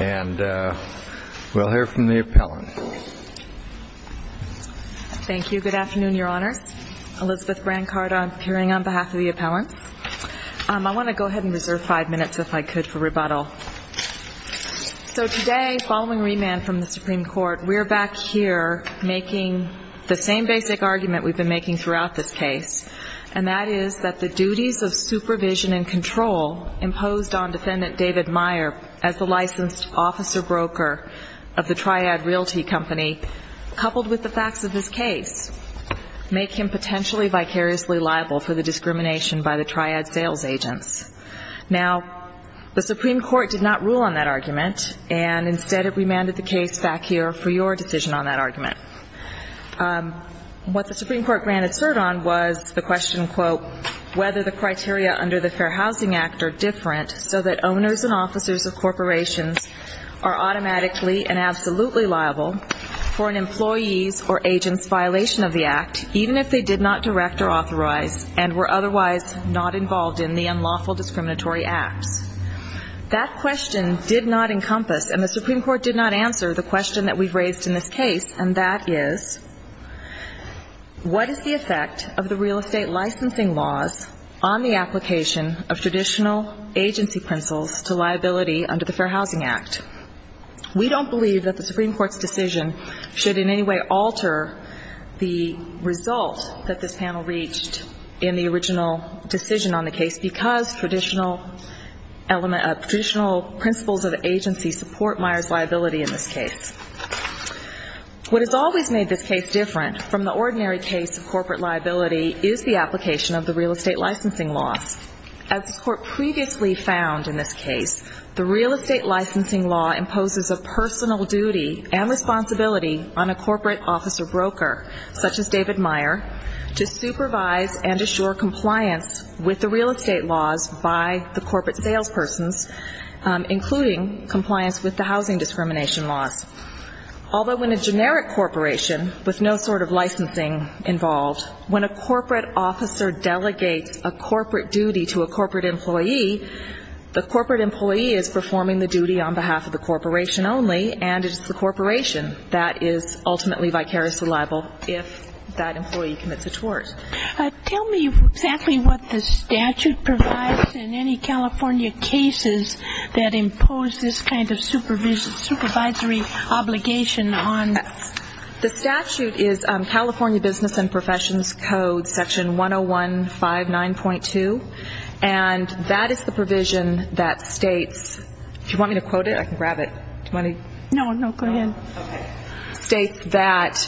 And we'll hear from the appellant. Thank you. Good afternoon, Your Honor. Elizabeth Brancard, appearing on behalf of the appellant. I want to go ahead and reserve five minutes, if I could, for rebuttal. So today, following remand from the Supreme Court, we're back here making the same basic argument we've been making throughout this case, and that is that the duties of supervision and control imposed on Defendant David Meyer as the licensed officer-broker of the Triad Realty Company, coupled with the facts of this case, make him potentially vicariously liable for the discrimination by the Triad sales agents. Now, the Supreme Court did not rule on that argument, and instead it remanded the case back here for your decision on that argument. What the Supreme Court granted cert on was the question, quote, whether the criteria under the Fair Housing Act are different so that owners and officers of corporations are automatically and absolutely liable for an employee's or agent's violation of the act, even if they did not direct or authorize and were otherwise not involved in the unlawful discriminatory acts. That question did not encompass, and the Supreme Court did not answer, the question that we've raised in this case, and that is, what is the effect of the real estate licensing laws, on the application of traditional agency principles to liability under the Fair Housing Act? We don't believe that the Supreme Court's decision should in any way alter the result that this panel reached in the original decision on the case, because traditional principles of agency support Meyer's liability in this case. What has always made this case different from the ordinary case of corporate liability is the application of the real estate licensing laws. As the Court previously found in this case, the real estate licensing law imposes a personal duty and responsibility on a corporate officer broker, such as David Meyer, to supervise and assure compliance with the real estate laws by the corporate salespersons, including compliance with the housing discrimination laws. Although in a generic corporation with no sort of licensing involved, when a corporate officer delegates a corporate duty to a corporate employee, the corporate employee is performing the duty on behalf of the corporation only, and it's the corporation that is ultimately vicariously liable if that employee commits a tort. Tell me exactly what the statute provides in any California cases that impose this kind of supervision, this supervisory obligation on? The statute is California Business and Professions Code, section 10159.2, and that is the provision that states, if you want me to quote it, I can grab it. Do you want me to? No, go ahead. It states that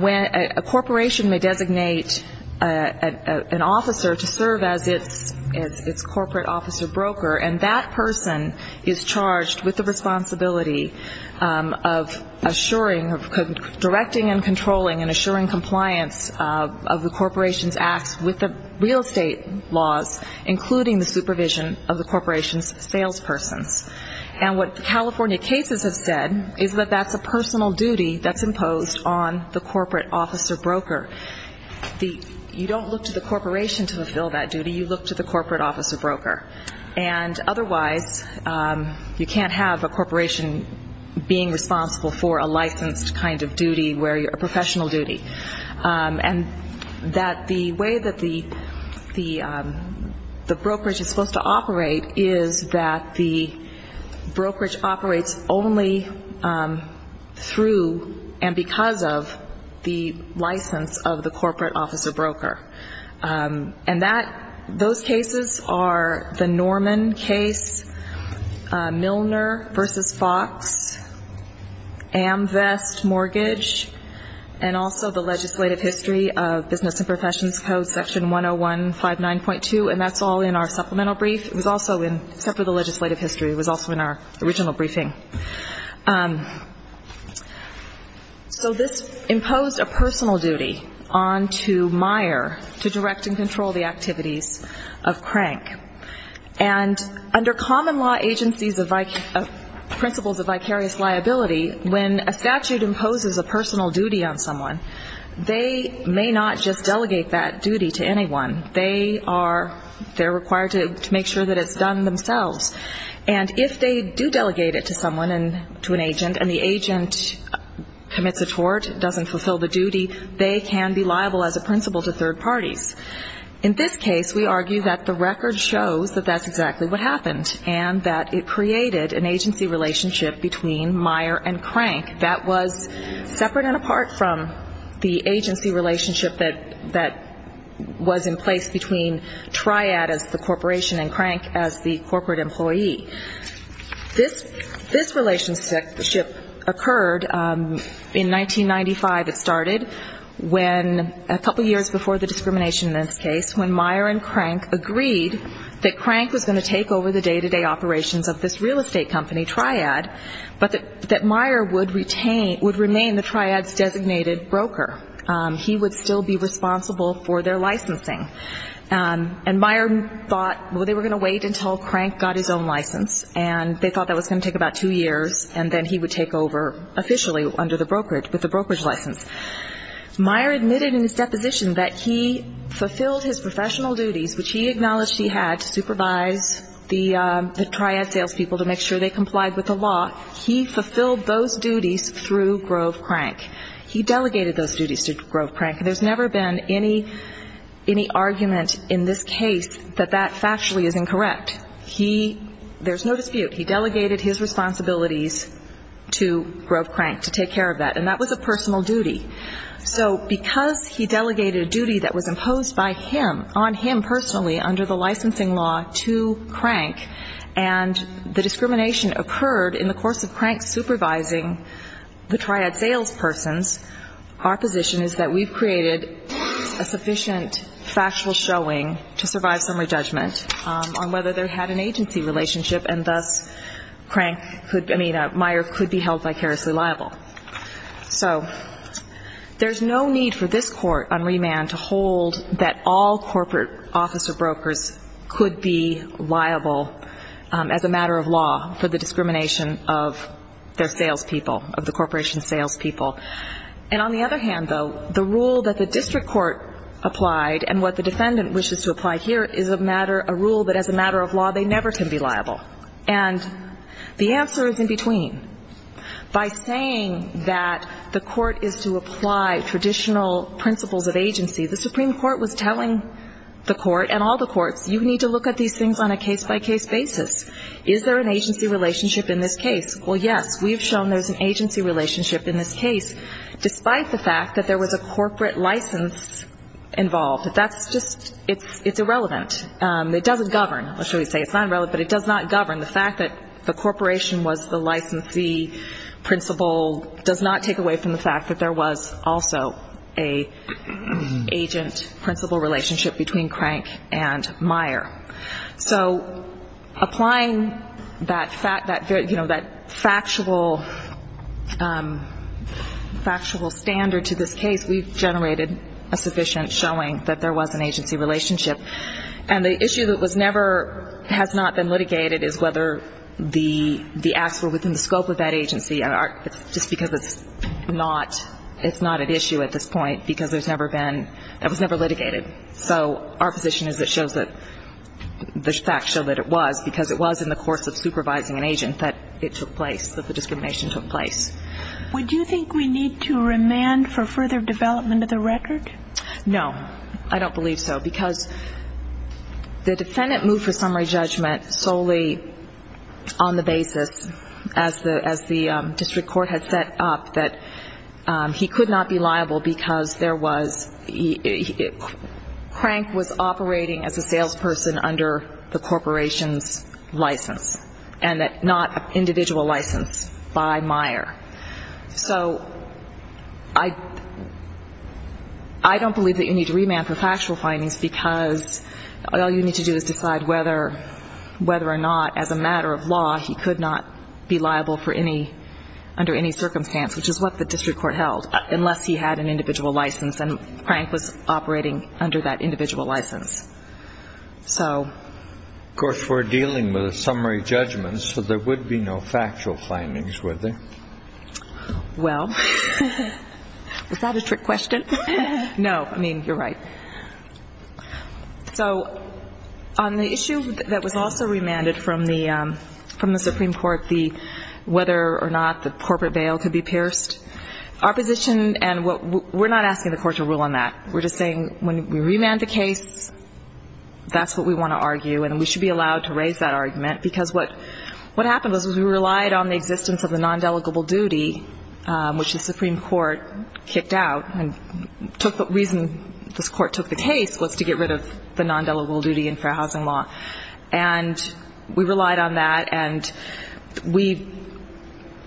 when a corporation may designate an officer to serve as its corporate officer broker, and that person is charged with the responsibility of assuring, of directing and controlling and assuring compliance of the corporation's acts with the real estate laws, including the supervision of the corporation's salespersons. And what the California cases have said is that that's a personal duty that's imposed on the corporate officer broker. You don't look to the corporation to fulfill that duty. You look to the corporate officer broker, and otherwise you can't have a corporation being responsible for a licensed kind of duty, a professional duty, and that the way that the brokerage is supposed to operate is that the brokerage operates only through and because of the license of the corporate officer broker. And those cases are the Norman case, Milner v. Fox, AmVest Mortgage, and also the legislative history of Business and Professions Code, Section 101-59.2, and that's all in our supplemental brief. It was also in, except for the legislative history, it was also in our original briefing. So this imposed a personal duty on to Meyer to direct and control the activities of Crank. And under common law principles of vicarious liability, when a statute imposes a personal duty on someone, they may not just delegate that duty to anyone. They are required to make sure that it's done themselves. And if they do delegate it to someone, to an agent, and the agent commits a tort, doesn't fulfill the duty, they can be liable as a principle to third parties. In this case, we argue that the record shows that that's exactly what happened, and that it created an agency relationship between Meyer and Crank that was separate and apart from the agency relationship that was in place between Triad as the corporation and Crank as the corporate employee. This relationship occurred in 1995, it started, when a couple years before the discrimination act, in this case, when Meyer and Crank agreed that Crank was going to take over the day-to-day operations of this real estate company, Triad, but that Meyer would retain, would remain the Triad's designated broker. He would still be responsible for their licensing. And Meyer thought, well, they were going to wait until Crank got his own license, and they thought that was going to take about two years, and then he would take over officially under the brokerage, with the brokerage license. Meyer admitted in his deposition that he fulfilled his professional duties, which he acknowledged he had to supervise the Triad salespeople to make sure they complied with the law. He fulfilled those duties through Grove Crank. He delegated those duties to Grove Crank. There's never been any argument in this case that that factually is incorrect. He, there's no dispute, he delegated his responsibilities to Grove Crank to take care of that, and that was a personal duty. So because he delegated a duty that was imposed by him, on him personally under the licensing law to Crank, and the discrimination occurred in the course of Crank supervising the Triad salespersons, our position is that we've created a sufficient factual showing to survive summary judgment on whether there had an agency relationship, and thus Meyer could be held vicariously liable. So there's no need for this court on remand to hold that all corporate officer brokers could be liable as a matter of law for the discrimination of their salespeople, of the corporation's salespeople. And on the other hand, though, the rule that the district court applied and what the defendant wishes to apply here is a rule that as a matter of law they never can be liable. And the answer is in between. By saying that the court is to apply traditional principles of agency, the Supreme Court was telling the court and all the courts, you need to look at these things on a case-by-case basis. Is there an agency relationship in this case? Well, yes, we've shown there's an agency relationship in this case, despite the fact that there was a corporate license involved. That's just, it's irrelevant. It doesn't govern, or should we say it's not relevant, but it does not govern. The fact that the corporation was the licensee principle does not take away from the fact that there was also an agent principle relationship between Crank and Meyer. So applying that factual standard to this case, we've generated a sufficient showing that there was an agency relationship. And the issue that has not been litigated is whether the acts were within the scope of that agency, just because it's not at issue at this point because it was never litigated. So our position is it shows that the facts show that it was, because it was in the course of supervising an agent that it took place, that the discrimination took place. Would you think we need to remand for further development of the record? No, I don't believe so, because the defendant moved for summary judgment solely on the basis, as the district court had set up, that he could not be liable because Crank was operating as a salesperson under the corporation's license and not an individual license by Meyer. So I don't believe that you need to remand for factual findings because all you need to do is decide whether or not, as a matter of law, he could not be liable under any circumstance, which is what the district court held, unless he had an individual license and Crank was operating under that individual license. Of course, we're dealing with a summary judgment, so there would be no factual findings, would there? Well, was that a trick question? No, I mean, you're right. So on the issue that was also remanded from the Supreme Court, whether or not the corporate bail could be pierced, our position, and we're not asking the court to rule on that, we're just saying when we remand the case, that's what we want to argue and we should be allowed to raise that argument, because what happened was we relied on the existence of the non-delegable duty, which the Supreme Court kicked out and the reason this court took the case was to get rid of the non-delegable duty in fair housing law, and we relied on that and we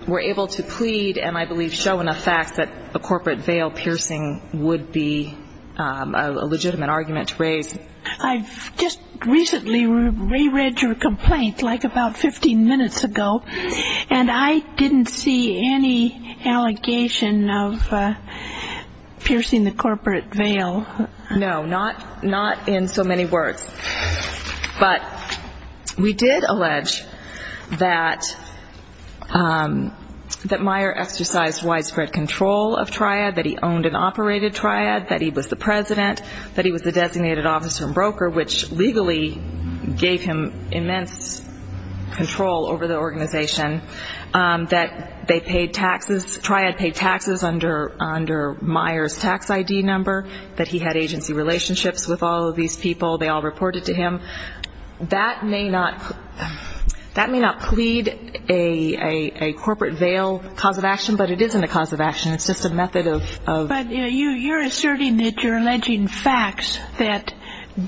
were able to plead and I believe show enough facts that a corporate bail piercing would be a legitimate argument to raise. I've just recently reread your complaint, like about 15 minutes ago, and I didn't see any allegation of piercing the corporate bail. No, not in so many words, but we did allege that Meyer exercised widespread control of Triad, that he owned and operated Triad, that he was the president, that he was the designated officer and broker, which legally gave him immense control over the organization, that Triad paid taxes under Meyer's tax ID number, that he had agency relationships with all of these people, they all reported to him. That may not plead a corporate bail cause of action, but it isn't a cause of action, it's just a method of... But you're asserting that you're alleging facts that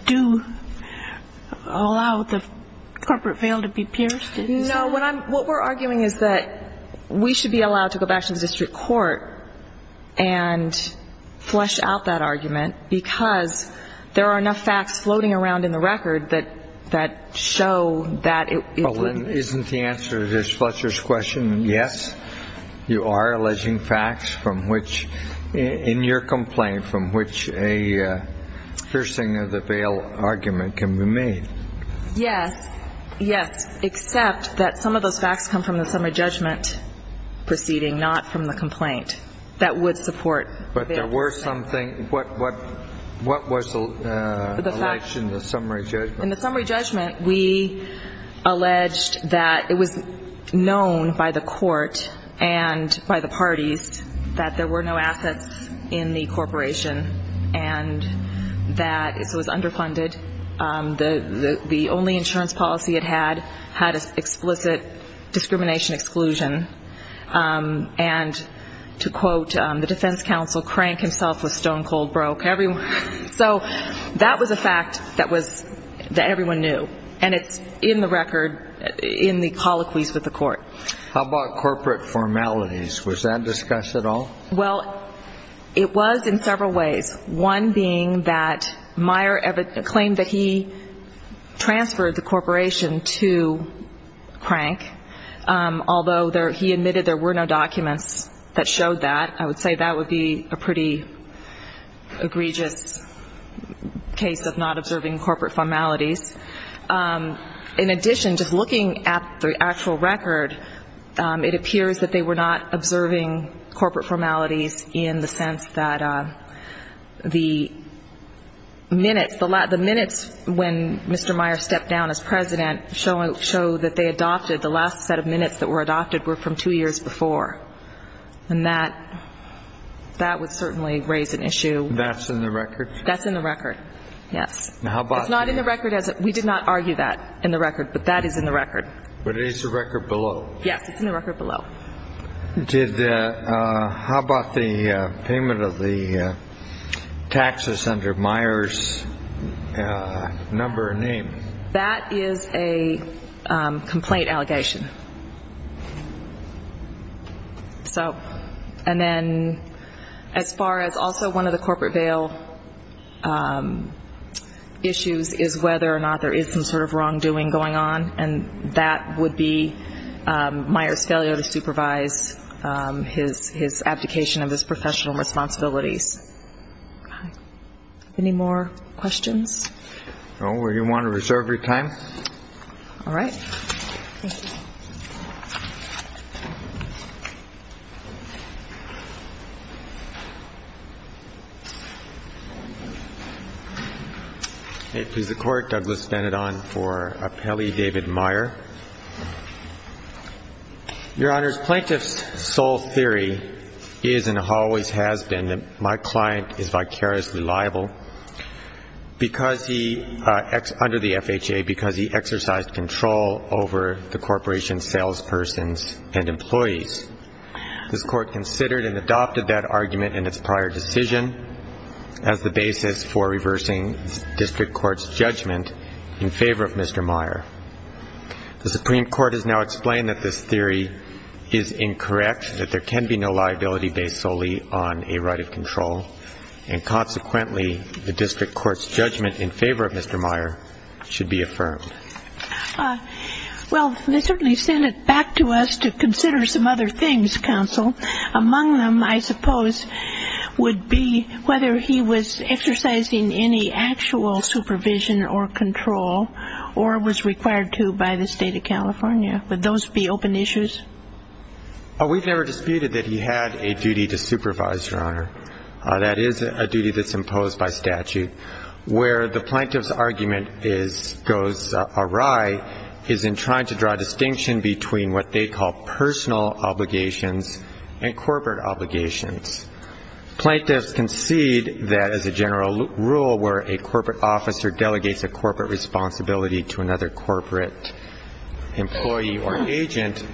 do allow the corporate bail to be pierced, isn't it? No, what we're arguing is that we should be allowed to go back to the district court and flesh out that argument because there are enough facts floating around in the record that show that... Isn't the answer to Ms. Fletcher's question yes? You are alleging facts from which, in your complaint, from which a piercing of the bail argument can be made? Yes, yes, except that some of those facts come from the summary judgment proceeding, not from the complaint that would support... But there were some things... What was alleged in the summary judgment? In the summary judgment, we alleged that it was known by the court and by the parties that there were no assets in the corporation and that it was underfunded, the only insurance policy it had had an explicit discrimination exclusion, and to quote the defense counsel, Crank himself was stone cold broke. So that was a fact that everyone knew, and it's in the record, in the colloquies with the court. How about corporate formalities? Was that discussed at all? Well, it was in several ways. One being that Meyer claimed that he transferred the corporation to Crank, although he admitted there were no documents that showed that. I would say that would be a pretty egregious case of not observing corporate formalities. In addition, just looking at the actual record, it appears that they were not observing corporate formalities in the sense that the minutes, the minutes when Mr. Meyer stepped down as president show that they adopted, the last set of minutes that were adopted were from two years before, and that would certainly raise an issue. That's in the record? That's in the record, yes. It's not in the record. We did not argue that in the record, but that is in the record. But it is the record below? Yes, it's in the record below. How about the payment of the taxes under Meyer's number and name? That is a complaint allegation. And then as far as also one of the corporate bail issues is whether or not there is some sort of wrongdoing going on, and that would be Meyer's failure to supervise his abdication of his professional responsibilities. Any more questions? No. Do you want to reserve your time? All right. Thank you. May it please the Court. Douglas Benidon for Appellee David Meyer. Your Honors, Plaintiff's sole theory is and always has been that my client is vicariously liable under the FHA because he exercised control over the corporation's salespersons and employees. This Court considered and adopted that argument in its prior decision as the basis for reversing district court's judgment in favor of Mr. Meyer. The Supreme Court has now explained that this theory is incorrect, that there can be no liability based solely on a right of control, and consequently the district court's judgment in favor of Mr. Meyer should be affirmed. Well, they certainly sent it back to us to consider some other things, Counsel. Among them, I suppose, would be whether he was exercising any actual supervision or control or was required to by the State of California. Would those be open issues? We've never disputed that he had a duty to supervise, Your Honor. That is a duty that's imposed by statute. Where the plaintiff's argument goes awry is in trying to draw a distinction between what they call personal obligations and corporate obligations. Plaintiffs concede that as a general rule where a corporate officer delegates a corporate responsibility to another corporate employee or agent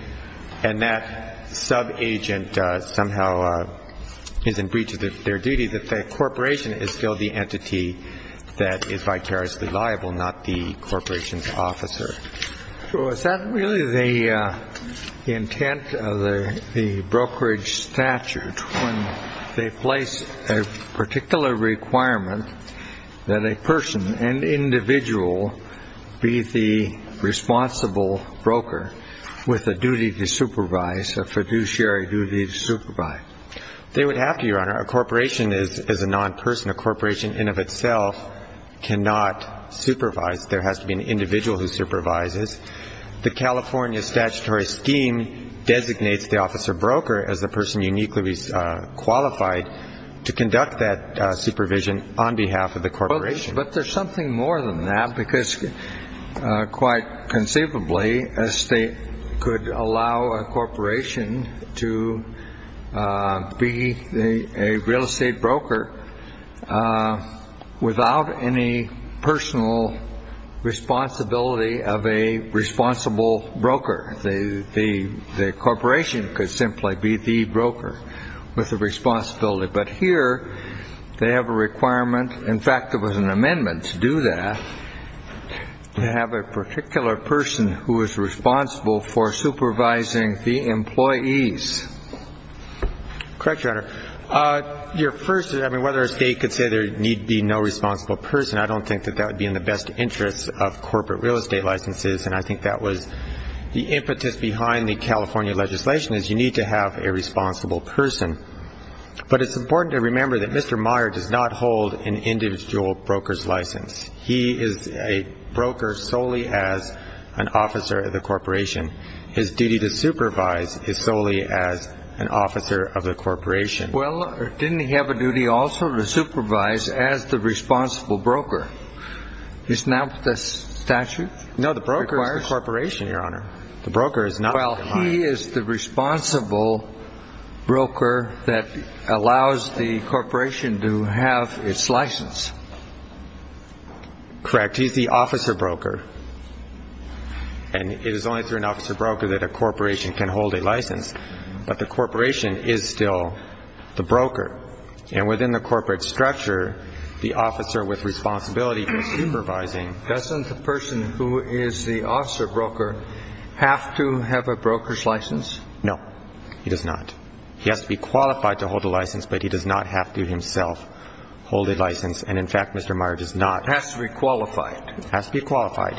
and that sub-agent somehow is in breach of their duty, the corporation is still the entity that is vicariously liable, not the corporation's officer. So is that really the intent of the brokerage statute when they place a particular requirement that a person, an individual, be the responsible broker with a duty to supervise, a fiduciary duty to supervise? They would have to, Your Honor. A corporation is a non-person. A corporation in of itself cannot supervise. There has to be an individual who supervises. The California statutory scheme designates the officer broker as the person uniquely qualified to conduct that supervision on behalf of the corporation. But there's something more than that because quite conceivably, a state could allow a corporation to be a real estate broker without any personal responsibility of a responsible broker. The corporation could simply be the broker with the responsibility. But here they have a requirement. In fact, there was an amendment to do that, to have a particular person who is responsible for supervising the employees. Correct, Your Honor. Your first, I mean, whether a state could say there need be no responsible person, I don't think that that would be in the best interest of corporate real estate licenses, and I think that was the impetus behind the California legislation is you need to have a responsible person. But it's important to remember that Mr. Meyer does not hold an individual broker's license. He is a broker solely as an officer of the corporation. His duty to supervise is solely as an officer of the corporation. Well, didn't he have a duty also to supervise as the responsible broker? Isn't that the statute? No, the broker is the corporation, Your Honor. The broker is not Mr. Meyer. Well, he is the responsible broker that allows the corporation to have its license. Correct. He's the officer broker. And it is only through an officer broker that a corporation can hold a license. But the corporation is still the broker. And within the corporate structure, the officer with responsibility for supervising. Doesn't the person who is the officer broker have to have a broker's license? No, he does not. He has to be qualified to hold a license, but he does not have to himself hold a license. And, in fact, Mr. Meyer does not. Has to be qualified. Has to be qualified,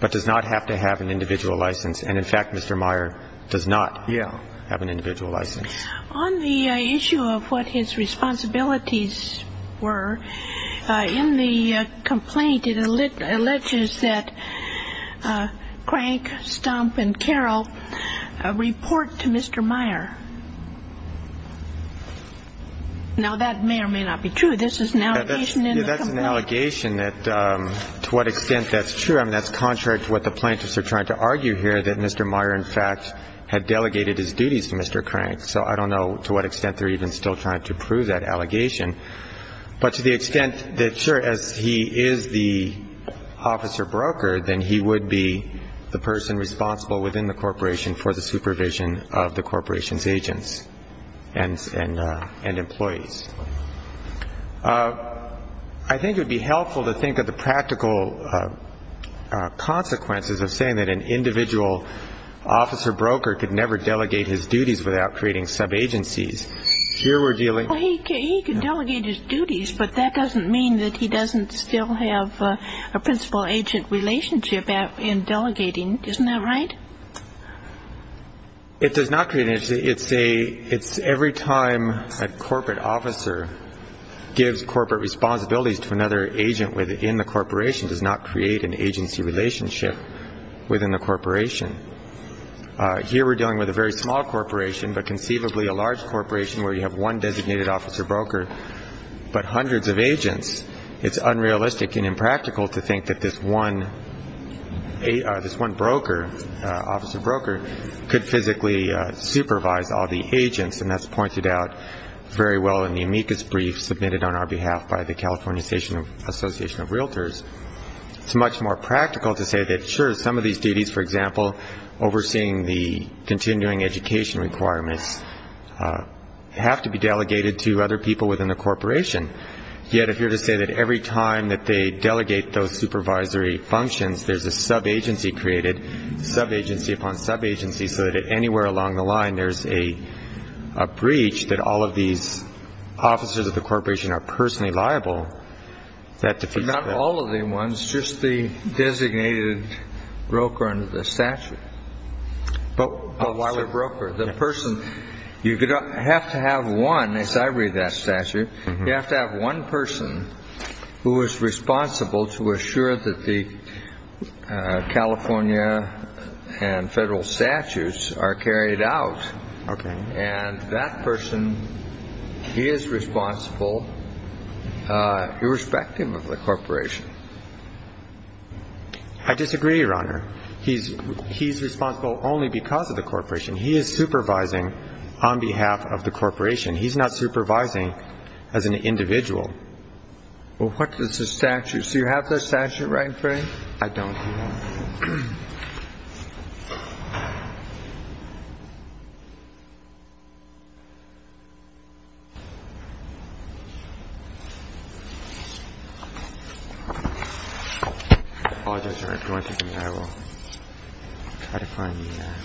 but does not have to have an individual license. And, in fact, Mr. Meyer does not have an individual license. On the issue of what his responsibilities were, in the complaint it alleges that Crank, Stump, and Carroll report to Mr. Meyer. Now, that may or may not be true. This is an allegation in the complaint. That's an allegation that to what extent that's true. I mean, that's contrary to what the plaintiffs are trying to argue here, that Mr. Meyer, in fact, had delegated his duties to Mr. Crank. So I don't know to what extent they're even still trying to prove that allegation. But to the extent that, sure, as he is the officer broker, then he would be the person responsible within the corporation for the supervision of the corporation's agents and employees. I think it would be helpful to think of the practical consequences of saying that an individual officer broker could never delegate his duties without creating sub-agencies. He could delegate his duties, but that doesn't mean that he doesn't still have a principal-agent relationship in delegating. Isn't that right? It does not create an agency. It's every time a corporate officer gives corporate responsibilities to another agent within the corporation, does not create an agency relationship within the corporation. Here we're dealing with a very small corporation, but conceivably a large corporation where you have one designated officer broker but hundreds of agents. It's unrealistic and impractical to think that this one broker, officer broker, could physically supervise all the agents, and that's pointed out very well in the amicus brief submitted on our behalf by the California Association of Realtors. It's much more practical to say that, sure, some of these duties, for example, overseeing the continuing education requirements have to be delegated to other people within the corporation. Yet if you're to say that every time that they delegate those supervisory functions, there's a sub-agency created, sub-agency upon sub-agency, so that anywhere along the line there's a breach that all of these officers of the corporation are personally liable, that defeats the purpose. Not all of the ones, just the designated broker under the statute. But why the broker? The person, you have to have one, as I read that statute, you have to have one person who is responsible to assure that the California and federal statutes are carried out. Okay. And that person is responsible irrespective of the corporation. I disagree, Your Honor. He's responsible only because of the corporation. He is supervising on behalf of the corporation. He's not supervising as an individual. Well, what is the statute? Do you have the statute right, Frank? I don't, Your Honor. Oh, that's right. I'll try to find that.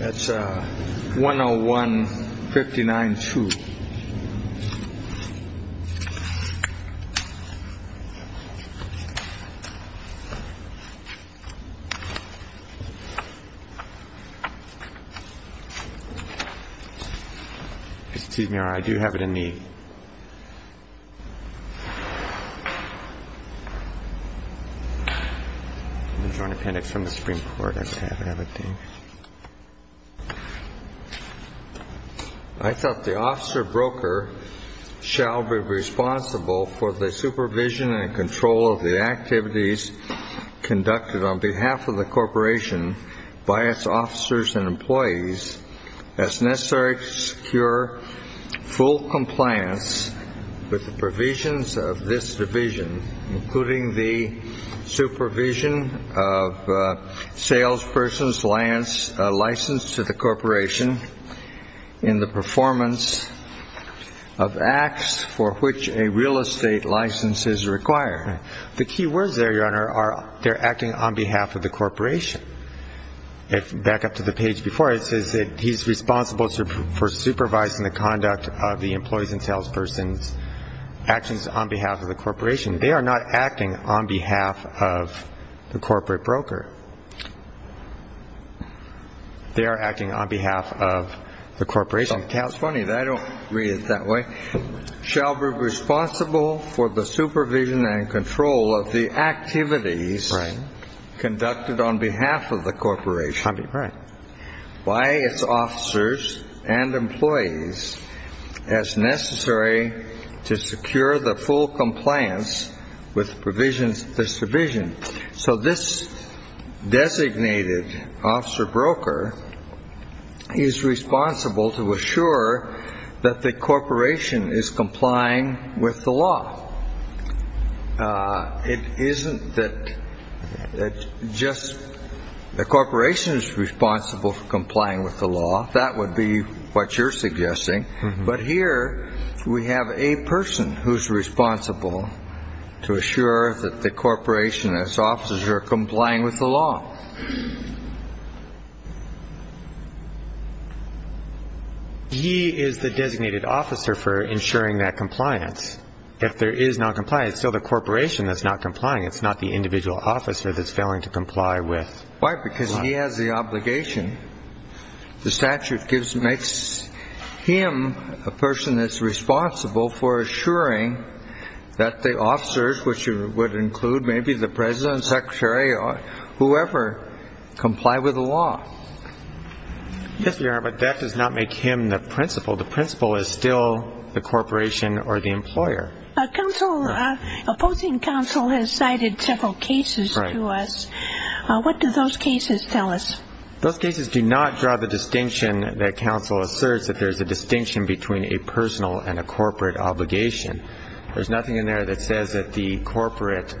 That's 101-59-2. Excuse me, Your Honor. I do have it in me. I'm going to join appendix from the Supreme Court. Okay. I thought the officer broker shall be responsible for the supervision and control of the activities conducted on behalf of the corporation by its officers and employees as necessary to secure full compliance with the provisions of this division, including the supervision of salesperson's license to the corporation in the performance of acts for which a real estate license is required. The key words there, Your Honor, are they're acting on behalf of the corporation. Back up to the page before it says that he's responsible for supervising the conduct of the employees and salesperson's actions on behalf of the corporation. They are not acting on behalf of the corporate broker. They are acting on behalf of the corporation. I don't read it that way. Shall be responsible for the supervision and control of the activities conducted on behalf of the corporation by its officers and employees as necessary to secure the full compliance with provisions of this division. So this designated officer broker is responsible to assure that the corporation is complying with the law. It isn't that just the corporation is responsible for complying with the law. That would be what you're suggesting. But here we have a person who's responsible to assure that the corporation, its officers, are complying with the law. He is the designated officer for ensuring that compliance. If there is noncompliance, it's still the corporation that's not complying. It's not the individual officer that's failing to comply with. Why? Because he has the obligation. The statute makes him a person that's responsible for assuring that the officers, which would include maybe the president, secretary, or whoever, comply with the law. Yes, Your Honor, but that does not make him the principal. The principal is still the corporation or the employer. A opposing counsel has cited several cases to us. Right. What do those cases tell us? Those cases do not draw the distinction that counsel asserts, that there's a distinction between a personal and a corporate obligation. There's nothing in there that says that the corporate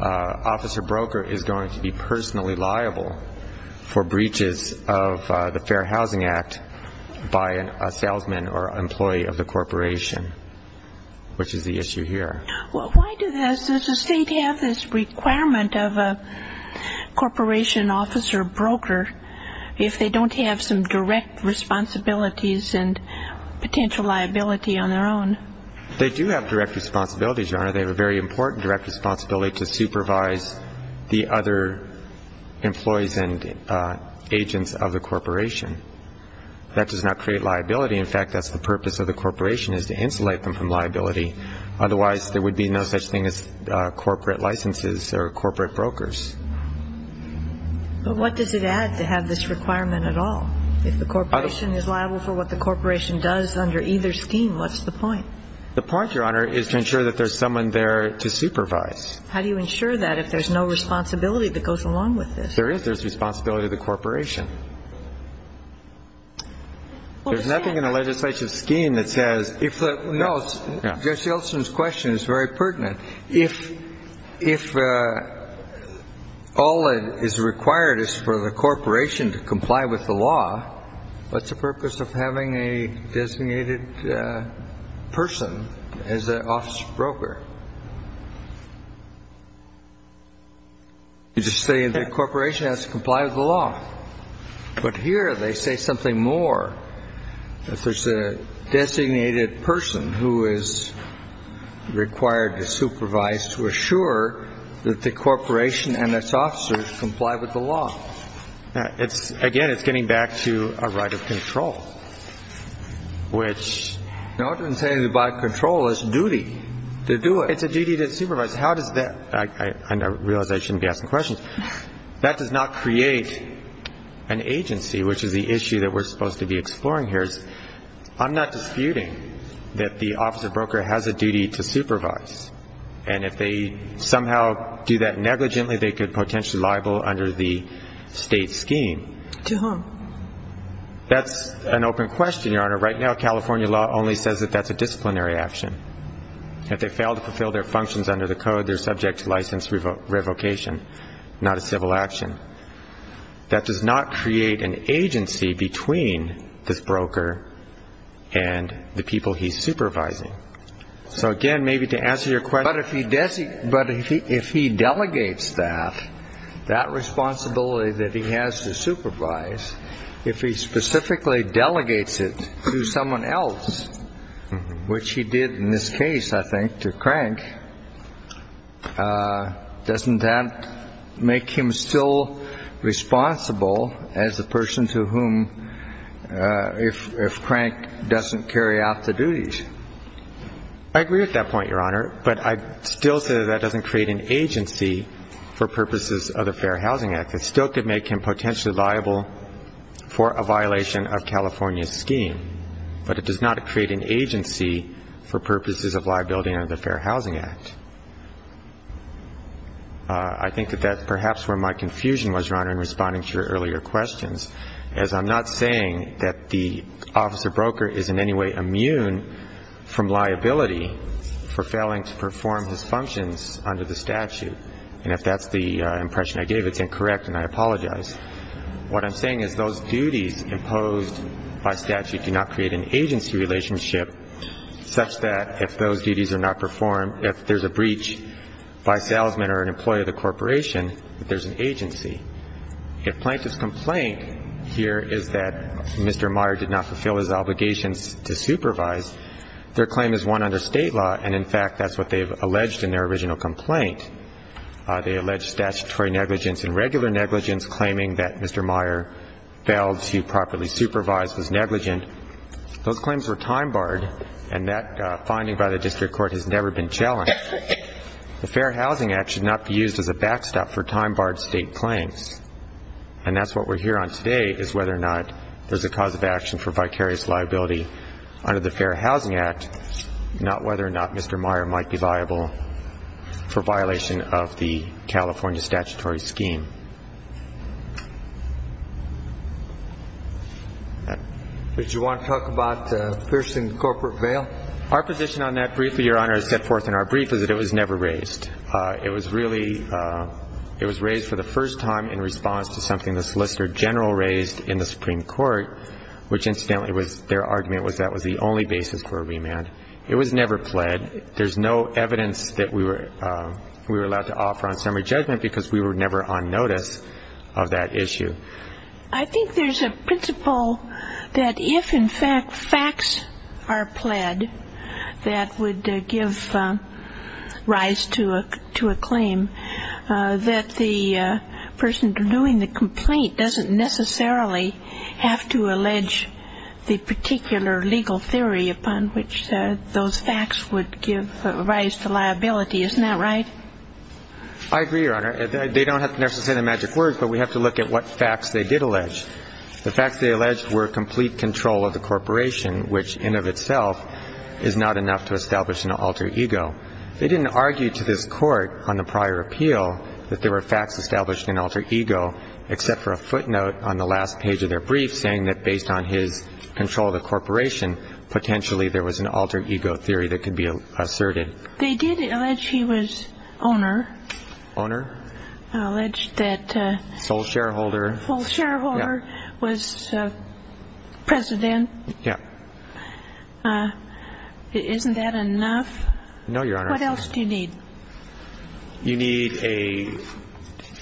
officer broker is going to be personally liable for breaches of the Fair Housing Act by a salesman or employee of the corporation, which is the issue here. Well, why does the state have this requirement of a corporation officer broker if they don't have some direct responsibilities and potential liability on their own? They do have direct responsibilities, Your Honor. They have a very important direct responsibility to supervise the other employees and agents of the corporation. That does not create liability. In fact, that's the purpose of the corporation is to insulate them from liability. Otherwise, there would be no such thing as corporate licenses or corporate brokers. But what does it add to have this requirement at all? If the corporation is liable for what the corporation does under either scheme, what's the point? The point, Your Honor, is to ensure that there's someone there to supervise. How do you ensure that if there's no responsibility that goes along with this? There is. There's responsibility to the corporation. There's nothing in the legislative scheme that says if the no, Jesse Olson's question is very pertinent. If if all it is required is for the corporation to comply with the law, what's the purpose of having a designated person as an officer broker? You're just saying the corporation has to comply with the law. But here they say something more. If there's a designated person who is required to supervise, to assure that the corporation and its officers comply with the law. It's again, it's getting back to a right of control, which. Now what you're saying is by control, it's duty to do it. It's a duty to supervise. How does that? I realize I shouldn't be asking questions. That does not create an agency, which is the issue that we're supposed to be exploring here. I'm not disputing that the officer broker has a duty to supervise. And if they somehow do that negligently, they could potentially liable under the state scheme. To whom? That's an open question, Your Honor. Right now, California law only says that that's a disciplinary action. If they fail to fulfill their functions under the code, they're subject to license revocation, not a civil action. That does not create an agency between this broker and the people he's supervising. So again, maybe to answer your question. But if he delegates that, that responsibility that he has to supervise, if he specifically delegates it to someone else, which he did in this case, I think, to Crank, doesn't that make him still responsible as a person to whom if Crank doesn't carry out the duties? I agree with that point, Your Honor. But I still say that that doesn't create an agency for purposes of the Fair Housing Act. It still could make him potentially liable for a violation of California's scheme. But it does not create an agency for purposes of liability under the Fair Housing Act. I think that that's perhaps where my confusion was, Your Honor, in responding to your earlier questions, as I'm not saying that the officer broker is in any way immune from liability for failing to perform his functions under the statute. And if that's the impression I gave, it's incorrect, and I apologize. What I'm saying is those duties imposed by statute do not create an agency relationship such that if those duties are not performed, if there's a breach by a salesman or an employee of the corporation, that there's an agency. If Plaintiff's complaint here is that Mr. Meyer did not fulfill his obligations to supervise, their claim is won under state law, and, in fact, that's what they've alleged in their original complaint. They allege statutory negligence and regular negligence, claiming that Mr. Meyer failed to properly supervise, was negligent. Those claims were time-barred, and that finding by the district court has never been challenged. The Fair Housing Act should not be used as a backstop for time-barred state claims. And that's what we're here on today, is whether or not there's a cause of action for vicarious liability under the Fair Housing Act, not whether or not Mr. Meyer might be viable for violation of the California statutory scheme. Did you want to talk about the Pearson corporate bail? Our position on that briefly, Your Honor, is set forth in our brief, is that it was never raised. It was raised for the first time in response to something the Solicitor General raised in the Supreme Court, which, incidentally, their argument was that was the only basis for a remand. It was never pled. There's no evidence that we were allowed to offer on summary judgment because we were never on notice of that issue. I think there's a principle that if, in fact, facts are pled that would give rise to a claim, that the person doing the complaint doesn't necessarily have to allege the particular legal theory upon which those facts would give rise to liability. Isn't that right? I agree, Your Honor. They don't have to necessarily say the magic word, but we have to look at what facts they did allege. The facts they alleged were complete control of the corporation, which in and of itself is not enough to establish an alter ego. They didn't argue to this Court on the prior appeal that there were facts established in alter ego, except for a footnote on the last page of their brief saying that based on his control of the corporation, potentially there was an alter ego theory that could be asserted. They did allege he was owner. Owner. Alleged that... Sole shareholder. Sole shareholder was president. Yeah. Isn't that enough? No, Your Honor. What else do you need? You need a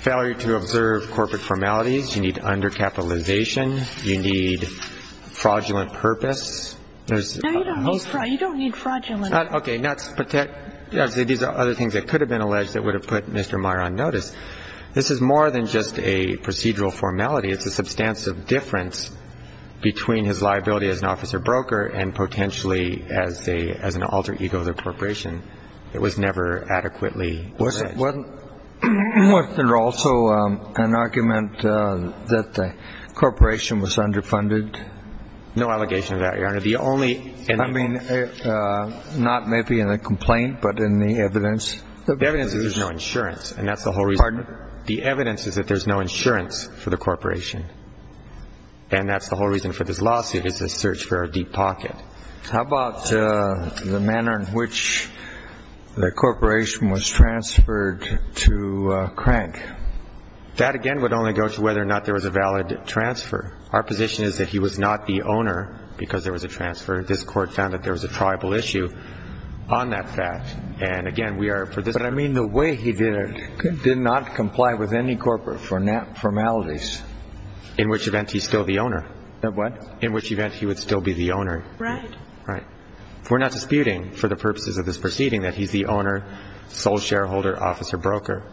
failure to observe corporate formalities. You need undercapitalization. You need fraudulent purpose. No, you don't need fraudulent. Okay. These are other things that could have been alleged that would have put Mr. Meyer on notice. This is more than just a procedural formality. It's a substantive difference between his liability as an officer broker and potentially as an alter ego of the corporation. It was never adequately alleged. Wasn't there also an argument that the corporation was underfunded? No allegation of that, Your Honor. I mean, not maybe in the complaint, but in the evidence. The evidence is there's no insurance, and that's the whole reason. Pardon? The evidence is that there's no insurance for the corporation, and that's the whole reason for this lawsuit is the search for a deep pocket. How about the manner in which the corporation was transferred to Crank? That, again, would only go to whether or not there was a valid transfer. Our position is that he was not the owner because there was a transfer. This Court found that there was a tribal issue on that fact, and again, we are for this. But I mean the way he did it did not comply with any corporate formalities. In which event, he's still the owner. What? In which event, he would still be the owner. Right. Right. We're not disputing for the purposes of this proceeding that he's the owner, sole shareholder, officer broker.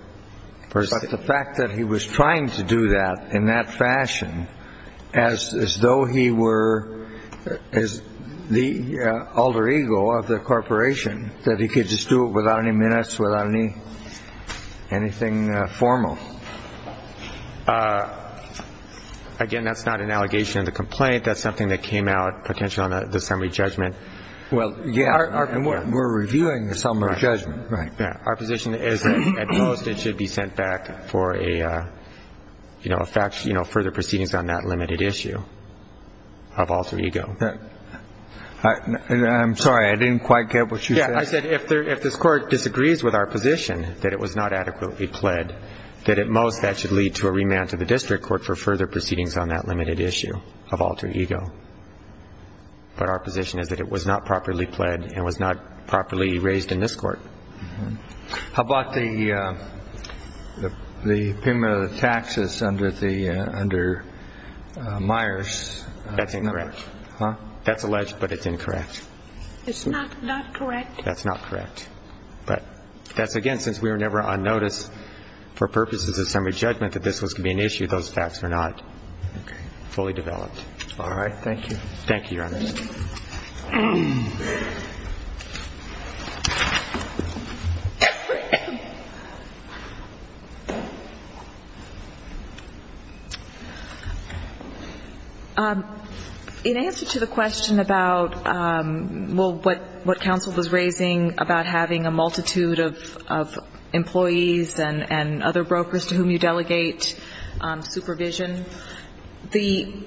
But the fact that he was trying to do that in that fashion as though he were the alter ego of the corporation, that he could just do it without any minutes, without anything formal. Again, that's not an allegation of the complaint. That's something that came out potentially on the summary judgment. Well, yeah. We're reviewing the summary judgment. Right. Our position is that at most it should be sent back for a further proceedings on that limited issue of alter ego. I'm sorry. I didn't quite get what you said. Yeah. I said if this Court disagrees with our position that it was not adequately pled, that at most that should lead to a remand to the district court for further proceedings on that limited issue of alter ego. But our position is that it was not properly pled and was not properly raised in this Court. How about the payment of the taxes under Myers? That's incorrect. Huh? That's alleged, but it's incorrect. It's not correct? That's not correct. But that's, again, since we were never on notice for purposes of summary judgment that this was going to be an issue, those facts were not fully developed. All right. Thank you. Thank you, Your Honor. In answer to the question about, well, what counsel was raising about having a multitude of employees and other brokers to whom you delegate supervision, the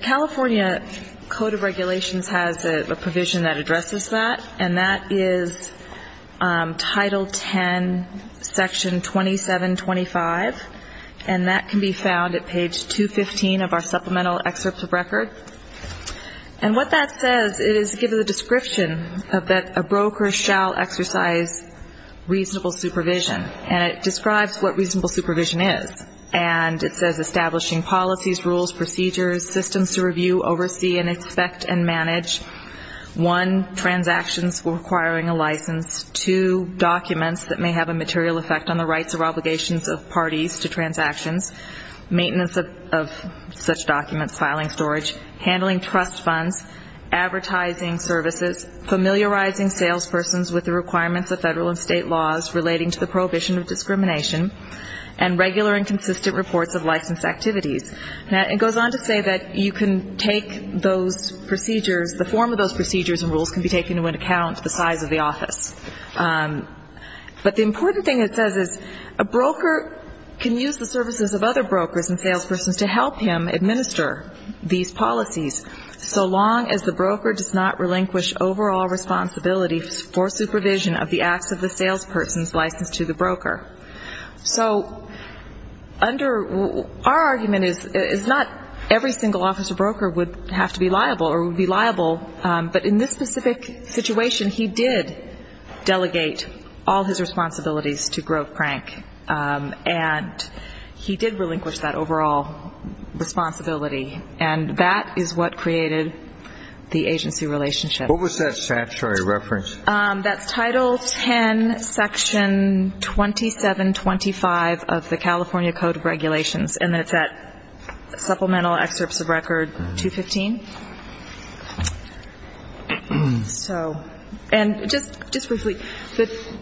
California Code of Regulations has a provision that addresses that, and that is Title 10, Section 2725, and that can be found at page 215 of our supplemental excerpt of record. And what that says is it gives a description that a broker shall exercise reasonable supervision, and it describes what reasonable supervision is. And it says establishing policies, rules, procedures, systems to review, oversee, and inspect and manage, one, transactions requiring a license, two, documents that may have a material effect on the rights or obligations of parties to transactions, maintenance of such documents, filing storage, handling trust funds, advertising services, familiarizing salespersons with the requirements of federal and state laws relating to the prohibition of discrimination, and regular and consistent reports of license activities. And it goes on to say that you can take those procedures, the form of those procedures and rules can be taken into account, the size of the office. But the important thing it says is a broker can use the services of other brokers and salespersons to help him administer these policies so long as the broker does not relinquish overall responsibility for supervision of the acts of the salesperson's license to the broker. So our argument is not every single officer broker would have to be liable or would be liable, but in this specific situation he did delegate all his responsibilities to Grove Crank, and he did relinquish that overall responsibility. And that is what created the agency relationship. What was that statutory reference? That's Title 10, Section 2725 of the California Code of Regulations, and it's at Supplemental Excerpts of Record 215. And just briefly,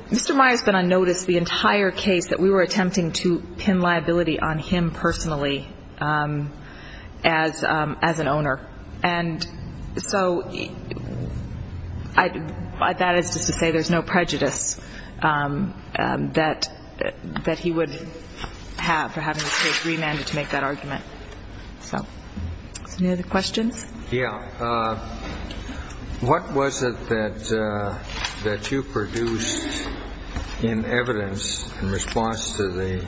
Mr. Meyer has been on notice the entire case that we were attempting to pin liability on him personally as an owner. And so that is just to say there's no prejudice that he would have for having the case remanded to make that argument. So any other questions? Yeah. What was it that you produced in evidence in response to the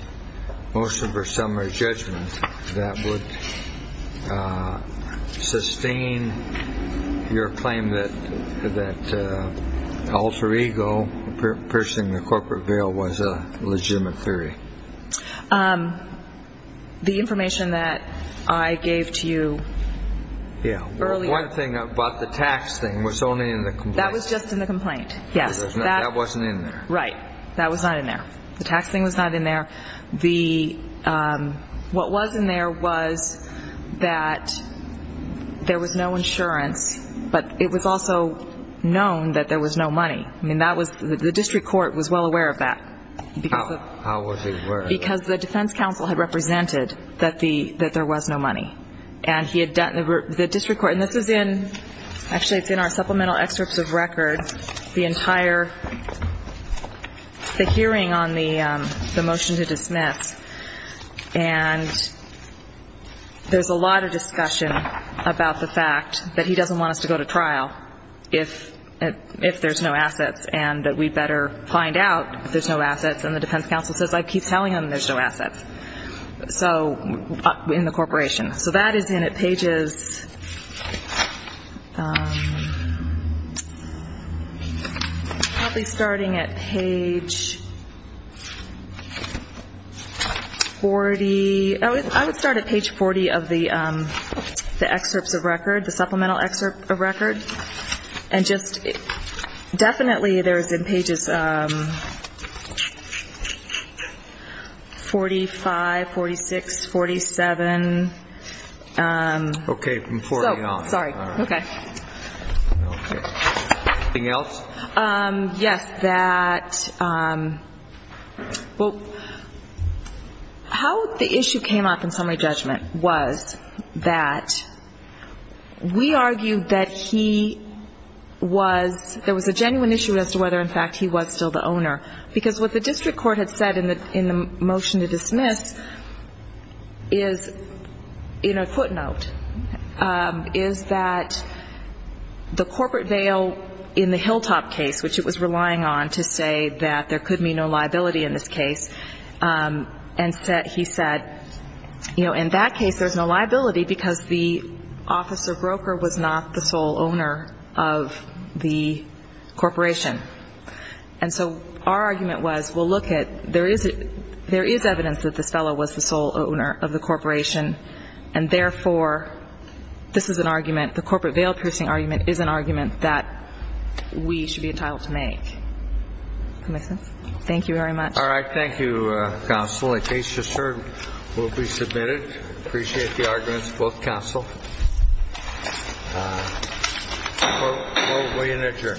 motion for summary judgment that would sustain your claim that Alter Ego, the person in the corporate veil, was a legitimate theory? The information that I gave to you earlier. Yeah. One thing about the tax thing was only in the complaint. That was just in the complaint, yes. That wasn't in there. Right. That was not in there. The tax thing was not in there. What was in there was that there was no insurance, but it was also known that there was no money. I mean, the district court was well aware of that. How was it? Because the defense counsel had represented that there was no money. And he had done the district court, and this is in, actually it's in our supplemental excerpts of record, the entire, the hearing on the motion to dismiss. And there's a lot of discussion about the fact that he doesn't want us to go to trial if there's no assets and that we'd better find out if there's no assets. And the defense counsel says, I keep telling them there's no assets in the corporation. So that is in at pages, probably starting at page 40. I would start at page 40 of the excerpts of record, the supplemental excerpt of record. And just definitely there's in pages 45, 46, 47. Okay, from 40 on. Sorry. Okay. Anything else? Yes, that, well, how the issue came up in summary judgment was that we argued that he was, there was a genuine issue as to whether, in fact, he was still the owner. Because what the district court had said in the motion to dismiss is, in a footnote, is that the corporate veil in the Hilltop case, which it was relying on to say that there could be no liability in this case, and he said, you know, in that case there's no liability because the officer broker was not the sole owner of the corporation. And so our argument was, well, look it, there is evidence that this fellow was the sole owner of the corporation, and, therefore, this is an argument, the corporate veil piercing argument is an argument that we should be entitled to make. Does that make sense? Thank you very much. All right. Thank you, counsel. The case, just heard, will be submitted. Appreciate the arguments of both counsel. We will adjourn.